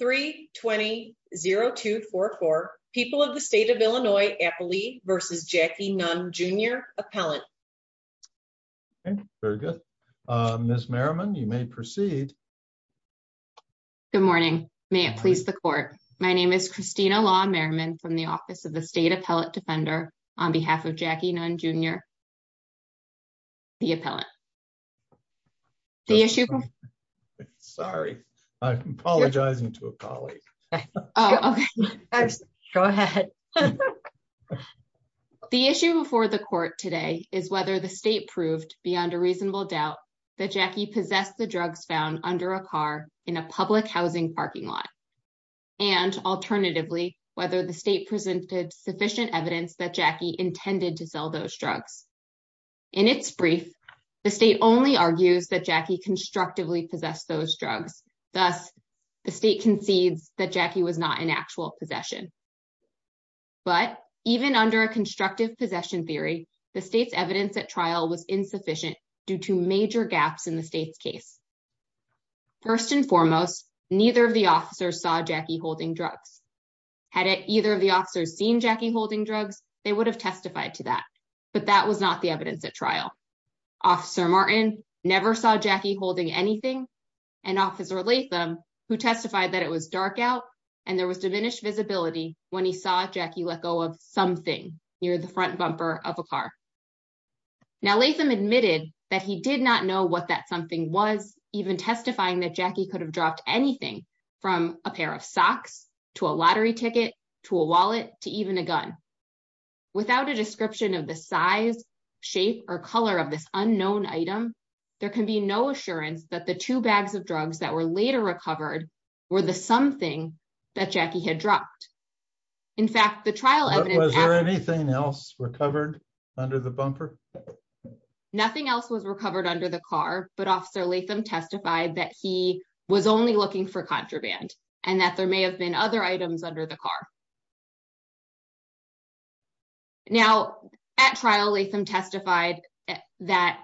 3-20-0244 People of the State of Illinois Appley v. Jackie Nunn Jr. Appellant Ms. Merriman, you may proceed. Good morning. May it please the Court. My name is Christina Law Merriman from the Office of the State Appellate Defender on behalf of Jackie Nunn Jr. the Appellant. The issue... Sorry, I'm apologizing to a colleague. Go ahead. The issue before the Court today is whether the State proved, beyond a reasonable doubt, that Jackie possessed the drugs found under a car in a public housing parking lot. And, alternatively, whether the State presented sufficient evidence that Jackie intended to sell those drugs. In its brief, the State only argues that Jackie constructively possessed those drugs. Thus, the State concedes that Jackie was not in actual possession. But, even under a constructive possession theory, the State's evidence at trial was insufficient due to major gaps in the State's case. First and foremost, neither of the officers saw Jackie holding drugs. Had either of the officers seen Jackie holding drugs, they would have testified to that. But that was not the evidence at trial. Officer Martin never saw Jackie holding anything. And Officer Latham, who testified that it was dark out and there was diminished visibility when he saw Jackie let go of something near the front bumper of a car. Now, Latham admitted that he did not know what that something was, even testifying that Jackie could have dropped anything from a pair of socks, to a lottery ticket, to a wallet, to even a gun. Without a description of the size, shape, or color of this unknown item, there can be no assurance that the two bags of drugs that were later recovered were the something that Jackie had dropped. In fact, the trial evidence... Was there anything else recovered under the bumper? Nothing else was recovered under the car, but Officer Latham testified that he was only looking for contraband and that there may have been other items under the car. Now, at trial, Latham testified that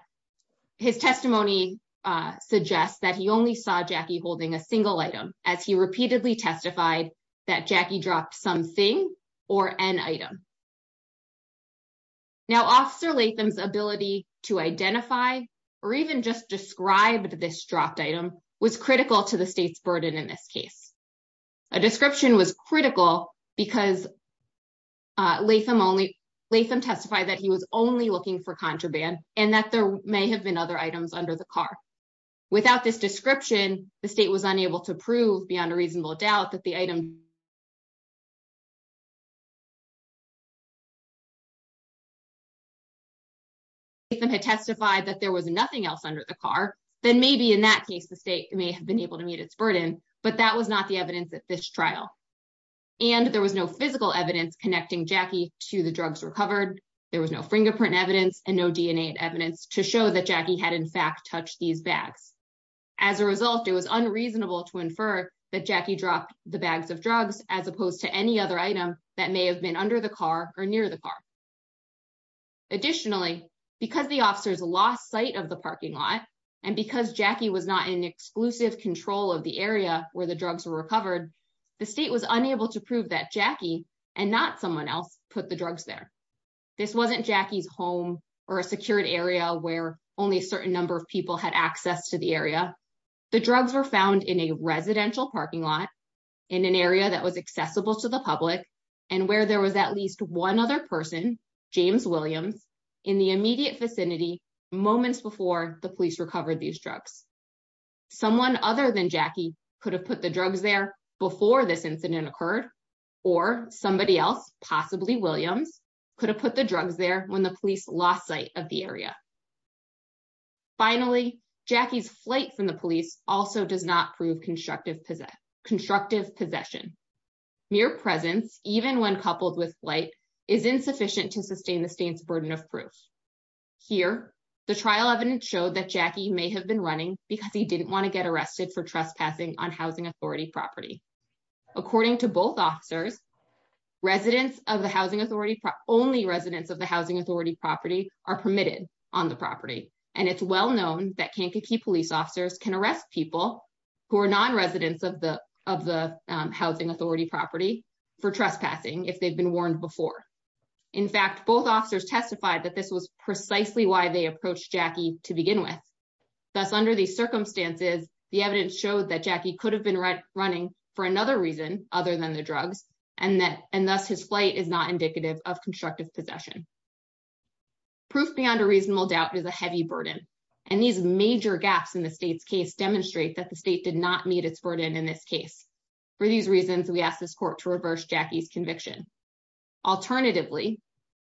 his testimony suggests that he only saw Jackie holding a single item, as he repeatedly testified that Jackie dropped something or an item. Now, Officer Latham's ability to identify or even just describe this dropped item was critical to the state's burden in this case. A description was critical because Latham testified that he was only looking for contraband and that there may have been other items under the car. Without this description, the state was unable to prove beyond a reasonable doubt that the item... Latham had testified that there was nothing else under the car, then maybe in that case, the state may have been able to meet its burden, but that was not the evidence at this trial. And there was no physical evidence connecting Jackie to the drugs recovered. There was no fingerprint evidence and no DNA evidence to show that Jackie had in fact touched these bags. As a result, it was unreasonable to infer that Jackie dropped the bags of drugs as opposed to any other item that may have been under the car or near the car. Additionally, because the officers lost sight of the parking lot and because Jackie was not in exclusive control of the area where the drugs were recovered, the state was unable to prove that Jackie and not someone else put the drugs there. This wasn't Jackie's home or a secured area where only a certain number of people had access to the area. The drugs were found in a residential parking lot in an area that was accessible to the public and where there was at least one other person, James Williams, in the immediate vicinity moments before the police recovered these drugs. Someone other than Jackie could have put the drugs there before this incident occurred, or somebody else, possibly Williams, could have put the drugs there when the police lost sight of the area. Finally, Jackie's flight from the police also does not prove constructive possession. Mere presence, even when coupled with flight, is insufficient to sustain the state's burden of proof. Here, the trial evidence showed that Jackie may have been running because he didn't want to get arrested for trespassing on Housing Authority property. According to both officers, only residents of the Housing Authority property are permitted on the property. And it's well known that Kankakee police officers can arrest people who are non-residents of the Housing Authority property for trespassing if they've been warned before. In fact, both officers testified that this was precisely why they approached Jackie to begin with. Thus, under these circumstances, the evidence showed that Jackie could have been running for another reason other than the drugs, and thus his flight is not indicative of constructive possession. Proof beyond a reasonable doubt is a heavy burden, and these major gaps in the state's case demonstrate that the state did not meet its burden in this case. For these reasons, we ask this court to reverse Jackie's conviction. Alternatively,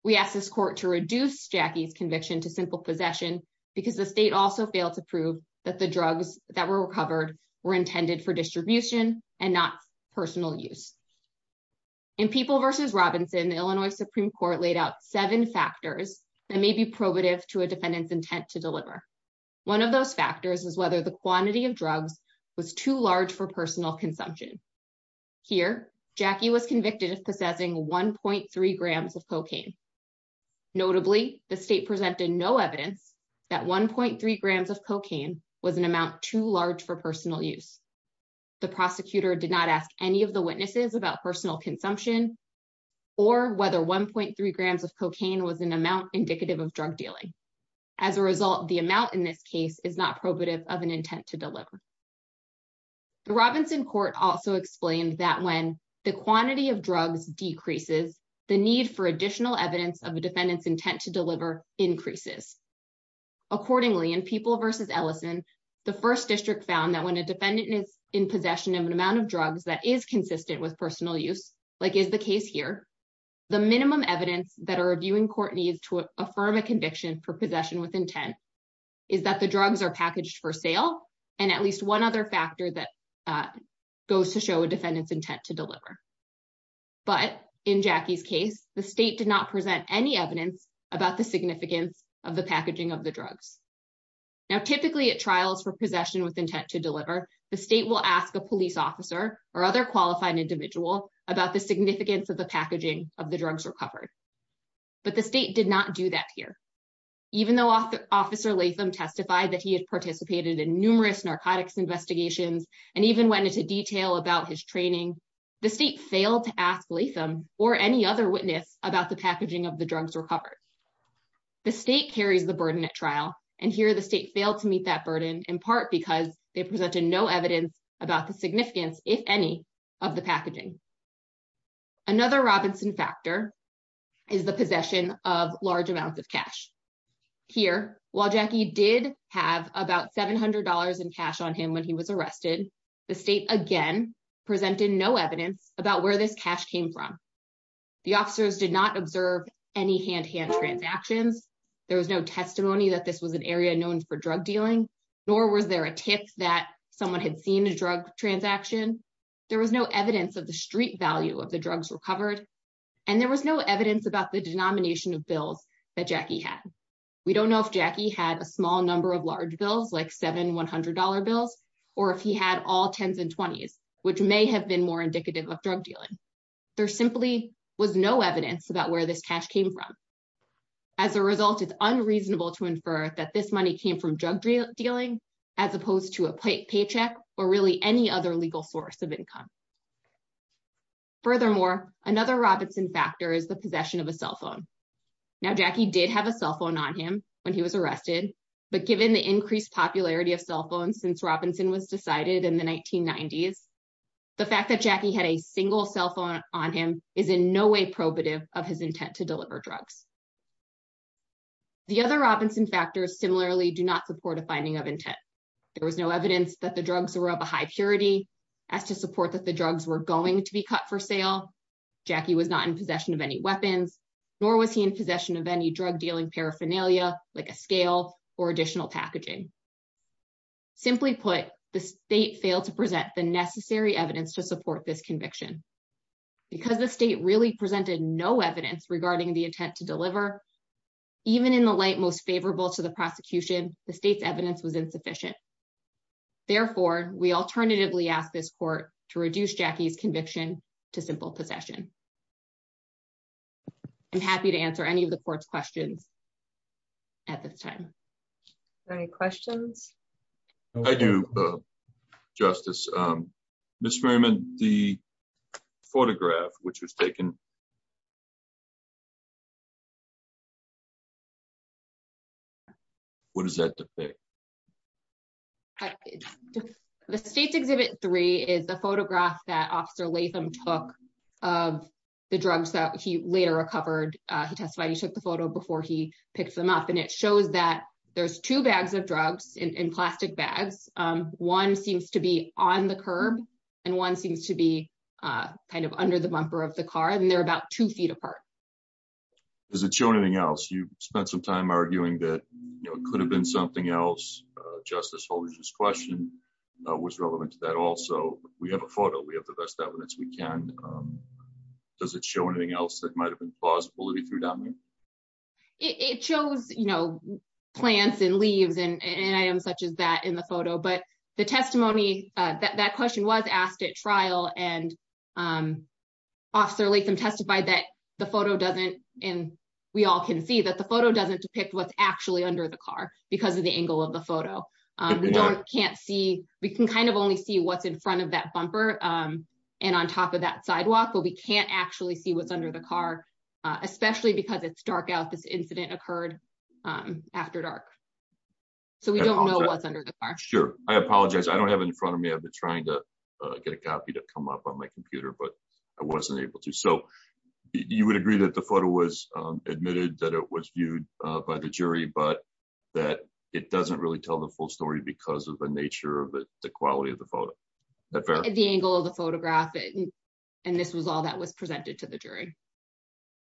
we ask this court to reduce Jackie's conviction to simple possession because the state also failed to prove that the drugs that were recovered were intended for distribution and not personal use. In People v. Robinson, the Illinois Supreme Court laid out seven factors that may be probative to a defendant's intent to deliver. One of those factors was whether the quantity of drugs was too large for personal consumption. Here, Jackie was convicted of possessing 1.3 grams of cocaine. Notably, the state presented no evidence that 1.3 grams of cocaine was an amount too large for personal use. The prosecutor did not ask any of the witnesses about personal consumption or whether 1.3 grams of cocaine was an amount indicative of drug dealing. As a result, the amount in this case is not probative of an intent to deliver. The Robinson court also explained that when the quantity of drugs decreases, the need for additional evidence of a defendant's intent to deliver increases. Accordingly, in People v. Ellison, the First District found that when a defendant is in possession of an amount of drugs that is consistent with personal use, like is the case here, the minimum evidence that a reviewing court needs to affirm a conviction for possession with intent is that the drugs are packaged for sale, and at least one other factor that goes to show a defendant's intent to deliver. But in Jackie's case, the state did not present any evidence about the significance of the packaging of the drugs. Now, typically at trials for possession with intent to deliver, the state will ask a police officer or other qualified individual about the significance of the packaging of the drugs recovered. But the state did not do that here. Even though Officer Latham testified that he had participated in numerous narcotics investigations and even went into detail about his training, the state failed to ask Latham or any other witness about the packaging of the drugs recovered. The state carries the burden at trial, and here the state failed to meet that burden in part because they presented no evidence about the significance, if any, of the packaging. Another Robinson factor is the possession of large amounts of cash. Here, while Jackie did have about $700 in cash on him when he was arrested, the state again presented no evidence about where this cash came from. The officers did not observe any hand-to-hand transactions. There was no testimony that this was an area known for drug dealing, nor was there a tip that someone had seen a drug transaction. There was no evidence of the street value of the drugs recovered, and there was no evidence about the denomination of bills that Jackie had. We don't know if Jackie had a small number of large bills, like seven $100 bills, or if he had all 10s and 20s, which may have been more indicative of drug dealing. There simply was no evidence about where this cash came from. As a result, it's unreasonable to infer that this money came from drug dealing, as opposed to a paycheck or really any other legal source of income. Furthermore, another Robinson factor is the possession of a cell phone. Now, Jackie did have a cell phone on him when he was arrested, but given the increased popularity of cell phones since Robinson was decided in the 1990s, the fact that Jackie had a single cell phone on him is in no way probative of his intent to deliver drugs. The other Robinson factors similarly do not support a finding of intent. There was no evidence that the drugs were of a high purity as to support that the drugs were going to be cut for sale. Jackie was not in possession of any weapons, nor was he in possession of any drug dealing paraphernalia, like a scale or additional packaging. Simply put, the state failed to present the necessary evidence to support this conviction. Because the state really presented no evidence regarding the intent to deliver, even in the light most favorable to the prosecution, the state's evidence was insufficient. Therefore, we alternatively ask this court to reduce Jackie's conviction to simple possession. I'm happy to answer any of the court's questions at this time. Any questions? I do, Justice. Ms. Merriman, the photograph which was taken, what is that? The State's Exhibit 3 is the photograph that Officer Latham took of the drugs that he later recovered. He testified he took the photo before he picked them up, and it shows that there's two bags of drugs in plastic bags. One seems to be on the curb, and one seems to be kind of under the bumper of the car, and they're about two feet apart. Does it show anything else? You spent some time arguing that it could have been something else. Justice Holder's question was relevant to that also. We have a photo. We have the best evidence we can. Does it show anything else that might have been plausible to be true, Dominique? It shows, you know, plants and leaves and items such as that in the photo. But the testimony, that question was asked at trial, and Officer Latham testified that the photo doesn't – and we all can see that the photo doesn't depict what's actually under the car because of the angle of the photo. We don't – can't see – we can kind of only see what's in front of that bumper and on top of that sidewalk, but we can't actually see what's under the car, especially because it's dark out. This incident occurred after dark, so we don't know what's under the car. Sure. I apologize. I don't have it in front of me. I've been trying to get a copy to come up on my computer, but I wasn't able to. So, you would agree that the photo was admitted, that it was viewed by the jury, but that it doesn't really tell the full story because of the nature of the quality of the photo. At the angle of the photograph, and this was all that was presented to the jury.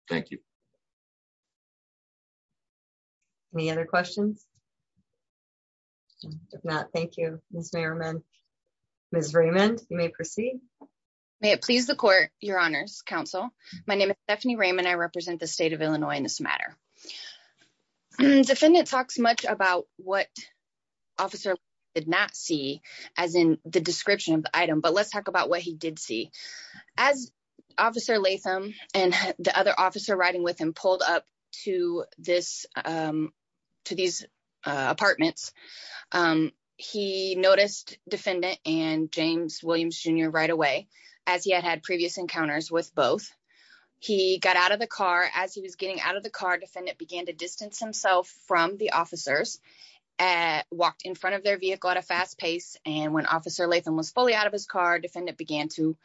Thank you. Any other questions? If not, thank you, Ms. Merriman. Ms. Raymond, you may proceed. May it please the Court, Your Honors, Counsel. My name is Stephanie Raymond. I represent the State of Illinois in this matter. The defendant talks much about what Officer Latham did not see as in the description of the item, but let's talk about what he did see. As Officer Latham and the other officer riding with him pulled up to this – to these apartments, he noticed Defendant and James Williams, Jr. right away, as he had had previous encounters with both. He got out of the car. As he was getting out of the car, Defendant began to distance himself from the officers, walked in front of their vehicle at a fast pace, and when Officer Latham was fully out of his car, Defendant began to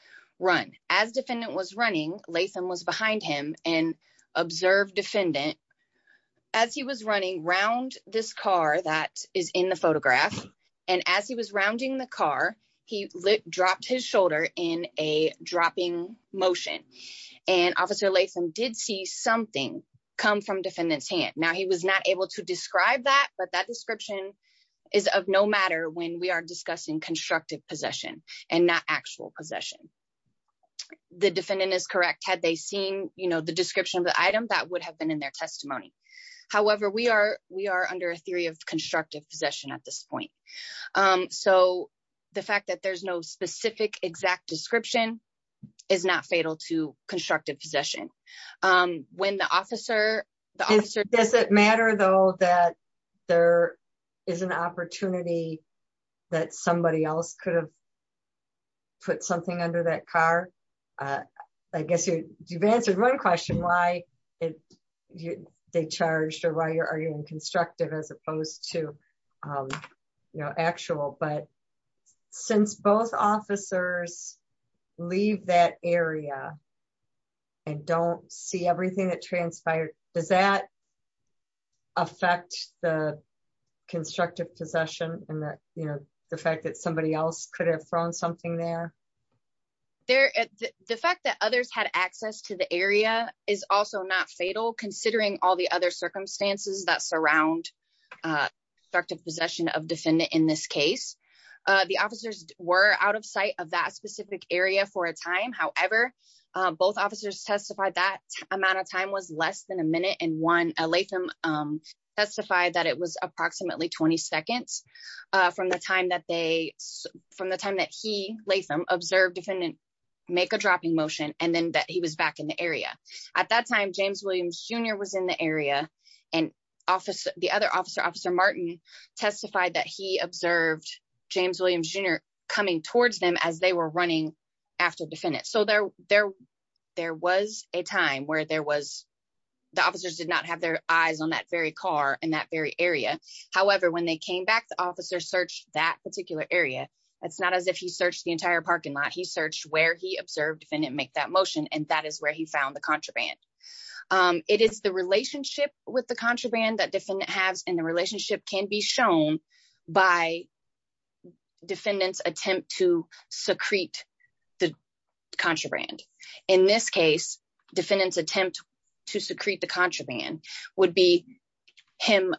run. As Defendant was running, Latham was behind him and observed Defendant. As he was running around this car that is in the photograph, and as he was rounding the car, he dropped his shoulder in a dropping motion, and Officer Latham did see something come from Defendant's hand. Now, he was not able to describe that, but that description is of no matter when we are discussing constructive possession and not actual possession. The defendant is correct. Had they seen, you know, the description of the item, that would have been in their testimony. However, we are under a theory of constructive possession at this point. So, the fact that there's no specific exact description is not fatal to constructive possession. When the officer – Does it matter, though, that there is an opportunity that somebody else could have put something under that car? I guess you've answered one question, why they charged, or why are you in constructive as opposed to, you know, actual. But since both officers leave that area and don't see everything that transpired, does that affect the constructive possession? And that, you know, the fact that somebody else could have thrown something there? The fact that others had access to the area is also not fatal, considering all the other circumstances that surround constructive possession of defendant in this case. The officers were out of sight of that specific area for a time. However, both officers testified that amount of time was less than a minute and one. Latham testified that it was approximately 20 seconds from the time that they – from the time that he, Latham, observed Defendant make a dropping motion and then that he was back in the area. At that time, James Williams Jr. was in the area, and the other officer, Officer Martin, testified that he observed James Williams Jr. coming towards them as they were running after Defendant. So there was a time where there was – the officers did not have their eyes on that very car in that very area. However, when they came back, the officer searched that particular area. It's not as if he searched the entire parking lot. He searched where he observed Defendant make that motion, and that is where he found the contraband. It is the relationship with the contraband that Defendant has, and the relationship can be shown by Defendant's attempt to secrete the contraband. In this case, Defendant's attempt to secrete the contraband would be him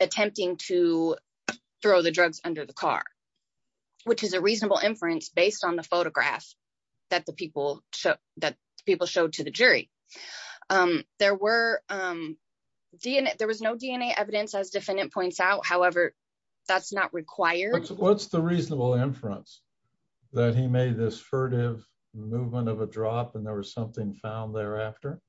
attempting to throw the drugs under the car, which is a reasonable inference based on the photograph that the people showed to the jury. There was no DNA evidence, as Defendant points out. However, that's not required. What's the reasonable inference that he made this furtive movement of a drop and there was something found thereafter?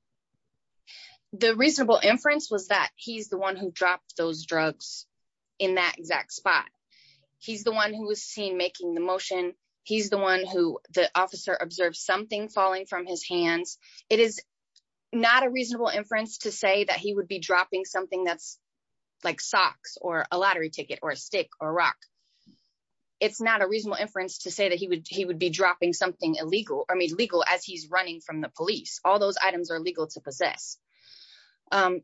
The reasonable inference was that he's the one who dropped those drugs in that exact spot. He's the one who was seen making the motion. He's the one who the officer observed something falling from his hands. It is not a reasonable inference to say that he would be dropping something that's like socks or a lottery ticket or a stick or rock. It's not a reasonable inference to say that he would he would be dropping something illegal or illegal as he's running from the police. All those items are illegal to possess.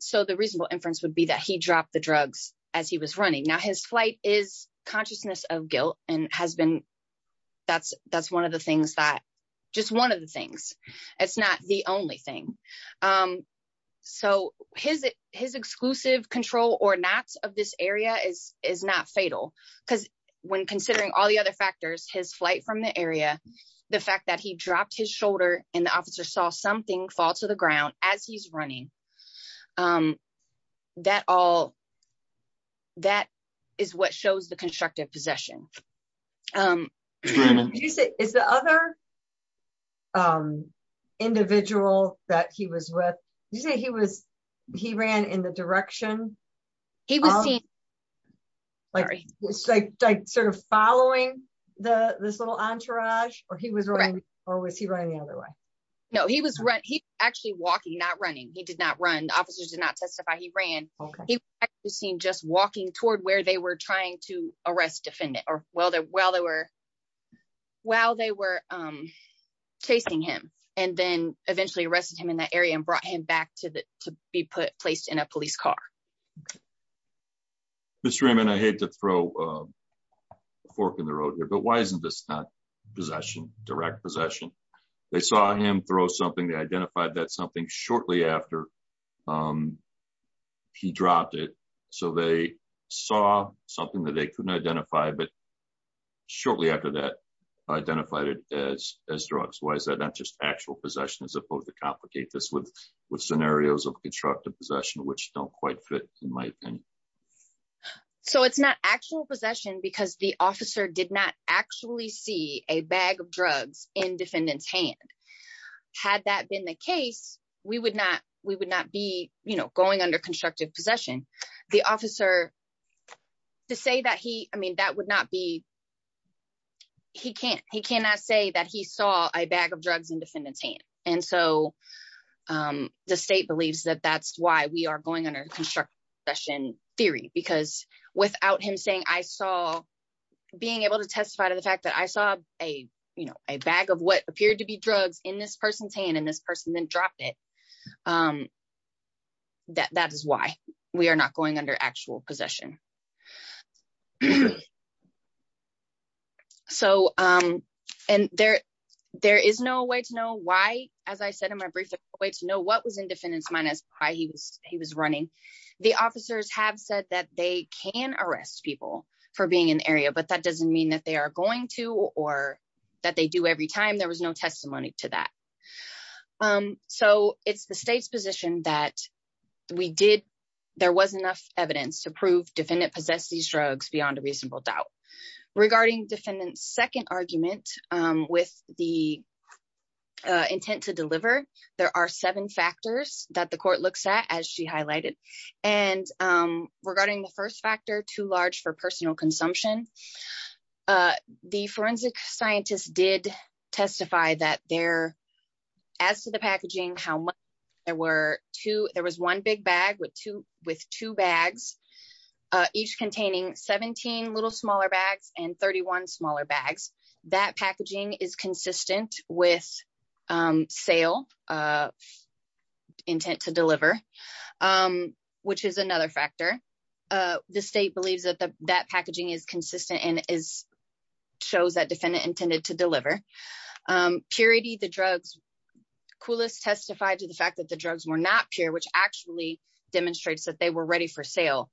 So the reasonable inference would be that he dropped the drugs as he was running. Now, his flight is consciousness of guilt and has been. That's that's one of the things that just one of the things. It's not the only thing. So his his exclusive control or not of this area is is not fatal because when considering all the other factors, his flight from the area, the fact that he dropped his shoulder and the officer saw something fall to the ground as he's running. That all. That is what shows the constructive possession is the other individual that he was with. You say he was he ran in the direction. He was like, like, sort of following the this little entourage or he was right. Or was he running the other way? No, he was right. He actually walking, not running. He did not run. Officers did not testify. He ran. He was seen just walking toward where they were trying to arrest defendant. Or well, while they were while they were chasing him and then eventually arrested him in that area and brought him back to be placed in a police car. Mr. Raymond, I hate to throw a fork in the road here, but why isn't this not possession, direct possession? They saw him throw something. They identified that something shortly after he dropped it. So they saw something that they couldn't identify. But shortly after that, identified it as as drugs. Why is that not just actual possession as opposed to complicate this with scenarios of constructive possession, which don't quite fit in my opinion? So it's not actual possession because the officer did not actually see a bag of drugs in defendant's hand. Had that been the case, we would not we would not be going under constructive possession. The officer to say that he I mean, that would not be. He can't he cannot say that he saw a bag of drugs in defendant's hand. And so the state believes that that's why we are going under construction theory, because without him saying I saw being able to testify to the fact that I saw a, you know, a bag of what appeared to be drugs in this person's hand and this person then dropped it. That is why we are not going under actual possession. So, and there there is no way to know why, as I said in my brief, a way to know what was in defendant's mind as he was he was running. The officers have said that they can arrest people for being an area, but that doesn't mean that they are going to or that they do every time there was no testimony to that. So it's the state's position that we did. There was enough evidence to prove defendant possess these drugs beyond a reasonable doubt regarding defendants second argument with the intent to deliver. There are seven factors that the court looks at, as she highlighted, and regarding the first factor too large for personal consumption. The forensic scientists did testify that there. As to the packaging how there were two, there was one big bag with two with two bags, each containing 17 little smaller bags and 31 smaller bags that packaging is consistent with sale of intent to deliver, which is another factor. The state believes that the that packaging is consistent and is shows that defendant intended to deliver purity the drugs coolest testified to the fact that the drugs were not pure which actually demonstrates that they were ready for sale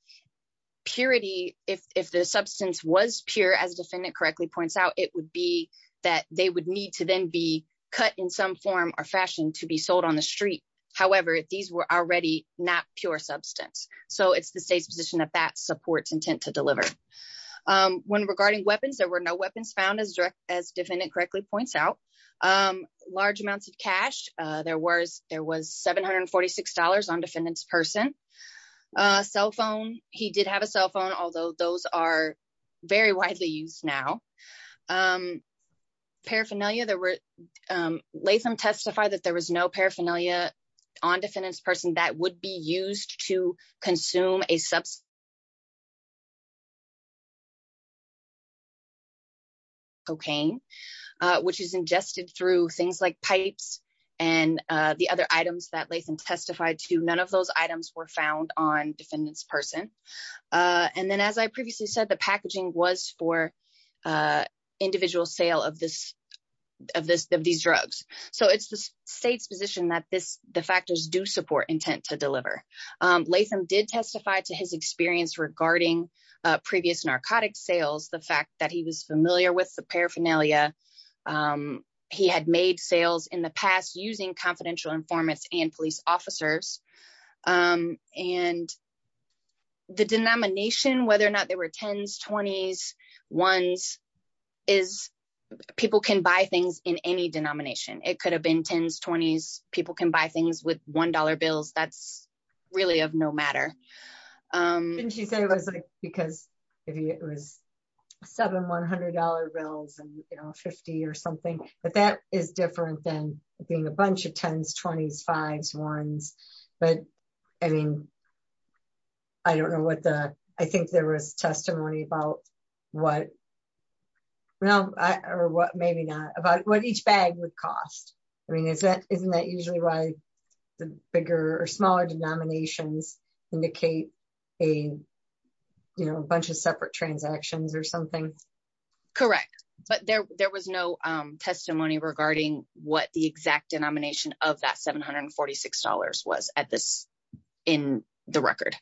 purity. If the substance was pure as defendant correctly points out, it would be that they would need to then be cut in some form or fashion to be sold on the street. However, these were already not pure substance. So it's the state's position that that supports intent to deliver. When regarding weapons there were no weapons found as direct as defendant correctly points out large amounts of cash, there was there was $746 on defendants person. Cell phone. He did have a cell phone, although those are very widely used now paraphernalia there were Latham testify that there was no paraphernalia on defendants person that would be used to consume a substance. Cocaine, which is ingested through things like pipes, and the other items that Latham testified to none of those items were found on defendants person. And then as I previously said the packaging was for individual sale of this of this of these drugs. So it's the state's position that this, the factors do support intent to deliver. Latham did testify to his experience regarding previous narcotic sales, the fact that he was familiar with the paraphernalia. He had made sales in the past using confidential informants and police officers. And the denomination whether or not they were 10s 20s ones is people can buy things in any denomination, it could have been 10s 20s, people can buy things with $1 bills that's really of no matter. Because it was seven $100 bills and 50 or something, but that is different than being a bunch of 10s 20s fives ones. But, I mean, I don't know what the, I think there was testimony about what. Well, or what maybe not about what each bag would cost. I mean is that isn't that usually why the bigger or smaller denominations indicate a, you know, a bunch of separate transactions or something. Correct. But there, there was no testimony regarding what the exact denomination of that $746 was at this in the record.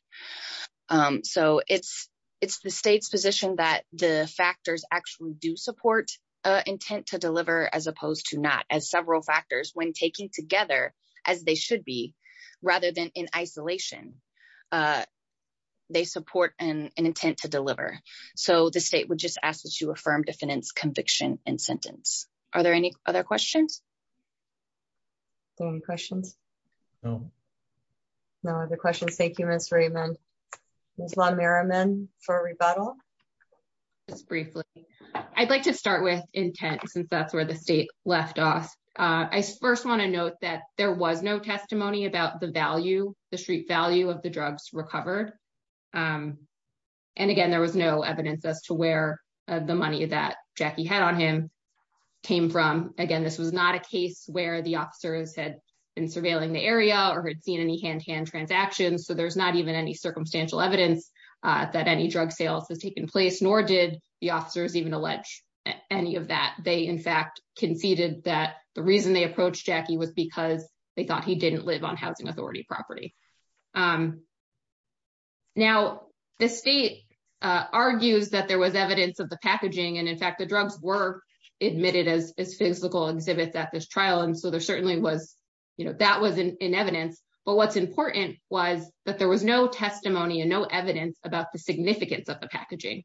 So it's, it's the state's position that the factors actually do support intent to deliver as opposed to not as several factors when taking together as they should be, rather than in isolation. They support an intent to deliver. So the state would just ask that you affirm defendants conviction and sentence. Are there any other questions. Any questions. No. No other questions. Thank you, Mr Raymond. There's a lot of Merriman for rebuttal. Just briefly, I'd like to start with intent since that's where the state left off. I first want to note that there was no testimony about the value, the street value of the drugs recovered. And again, there was no evidence as to where the money that Jackie had on him came from. Again, this was not a case where the officers had been surveilling the area or had seen any hand to hand transactions so there's not even any circumstantial evidence that any drug sales has taken place nor did the officers even allege any of that they in fact conceded that the reason they approached Jackie was because they thought he didn't live on housing authority property. Now, the state argues that there was evidence of the packaging and in fact the drugs were admitted as physical exhibits at this trial and so there certainly was, you know, that was in evidence, but what's important was that there was no testimony and no evidence about the significance of the packaging.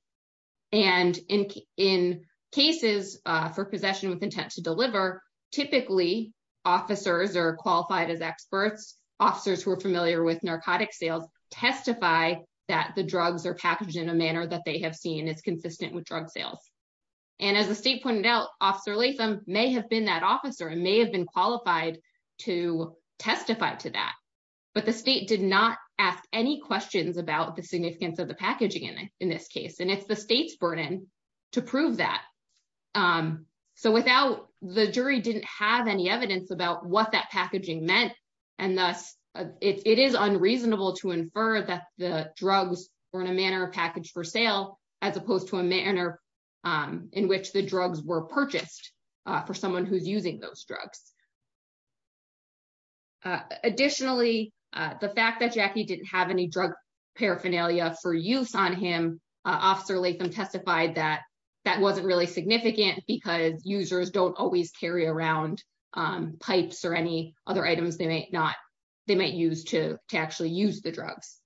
And in, in cases for possession with intent to deliver typically officers are qualified as experts officers who are familiar with narcotic sales testify that the drugs are packaged in a manner that they have seen is consistent with drug sales. And as the state pointed out, Officer Latham may have been that officer and may have been qualified to testify to that, but the state did not ask any questions about the significance of the packaging and in this case and it's the state's burden to prove that. So without the jury didn't have any evidence about what that packaging meant. And thus, it is unreasonable to infer that the drugs are in a manner of package for sale, as opposed to a manner in which the drugs were purchased for someone who's using those drugs. Additionally, the fact that Jackie didn't have any drug paraphernalia for use on him. Officer Latham testified that that wasn't really significant because users don't always carry around pipes or any other items they might not, they might use to actually use the drugs.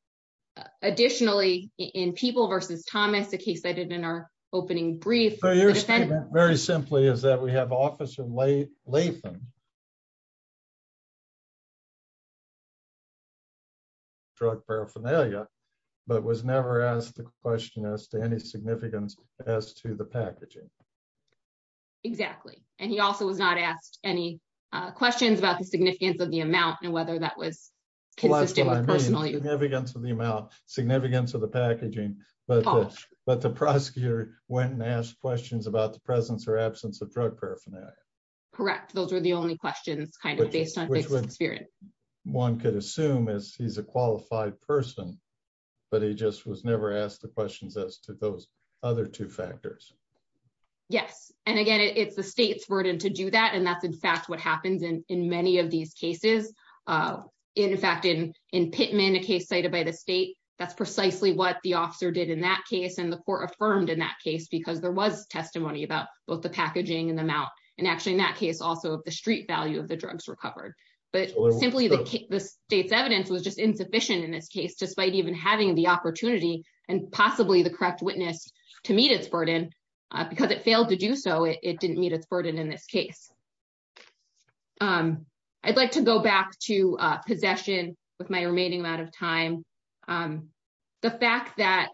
Additionally, in people versus Thomas the case I did in our opening brief. Very simply is that we have Officer Latham drug paraphernalia, but was never asked the question as to any significance as to the packaging. Exactly. And he also was not asked any questions about the significance of the amount and whether that was consistent with personal you have against the amount significance of the packaging, but, but the prosecutor went and asked questions about the presence or absence of drug paraphernalia. Correct. Those are the only questions kind of based on spirit. One could assume as he's a qualified person, but he just was never asked the questions as to those other two factors. Yes, and again it's the state's burden to do that and that's in fact what happens in, in many of these cases. In fact in in Pittman a case cited by the state. That's precisely what the officer did in that case and the court affirmed in that case because there was testimony about both the packaging and the amount, and actually in that case also the street value of the drugs recovered, but simply the state's evidence was just insufficient in this case despite even having the opportunity, and possibly the correct witness to meet its burden, because it failed to do so it didn't meet its burden in this case. I'd like to go back to possession, with my remaining amount of time. The fact that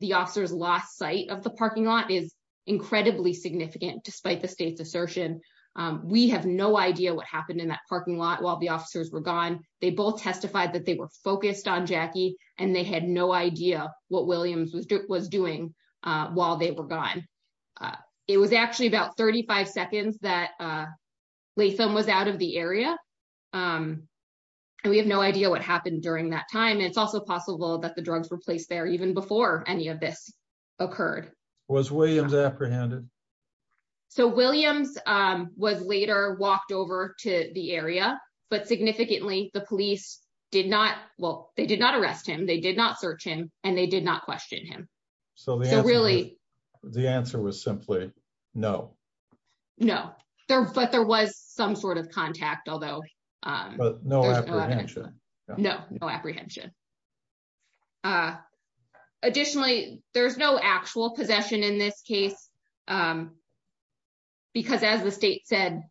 the officers lost sight of the parking lot is incredibly significant despite the state's assertion. We have no idea what happened in that parking lot while the officers were gone. They both testified that they were focused on Jackie, and they had no idea what Williams was was doing while they were gone. It was actually about 35 seconds that we film was out of the area. We have no idea what happened during that time it's also possible that the drugs were placed there even before any of this occurred was Williams apprehended. So Williams was later walked over to the area, but significantly, the police did not well, they did not arrest him they did not search him, and they did not question him. So really, the answer was simply no. No, there, but there was some sort of contact, although no no apprehension. Additionally, there's no actual possession in this case. Because as the state said,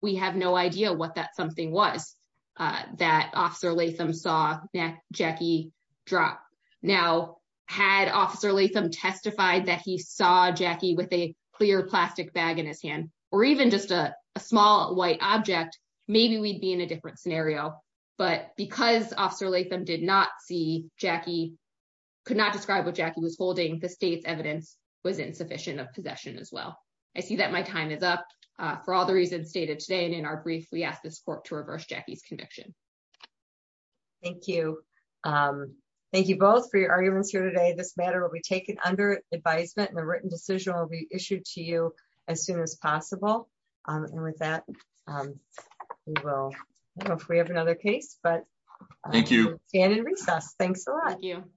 we have no idea what that something was that officer Latham saw that Jackie drop. Now, had officer Latham testified that he saw Jackie with a clear plastic bag in his hand, or even just a small white object. Maybe we'd be in a different scenario, but because officer Latham did not see Jackie could not describe what Jackie was holding the state's evidence was insufficient of possession as well. I see that my time is up for all the reasons stated today and in our brief we asked this court to reverse Jackie's conviction. Thank you. Thank you both for your arguments here today this matter will be taken under advisement and the written decision will be issued to you as soon as possible. And with that, we will have another case but thank you, and in recess. Thanks a lot. Thank you.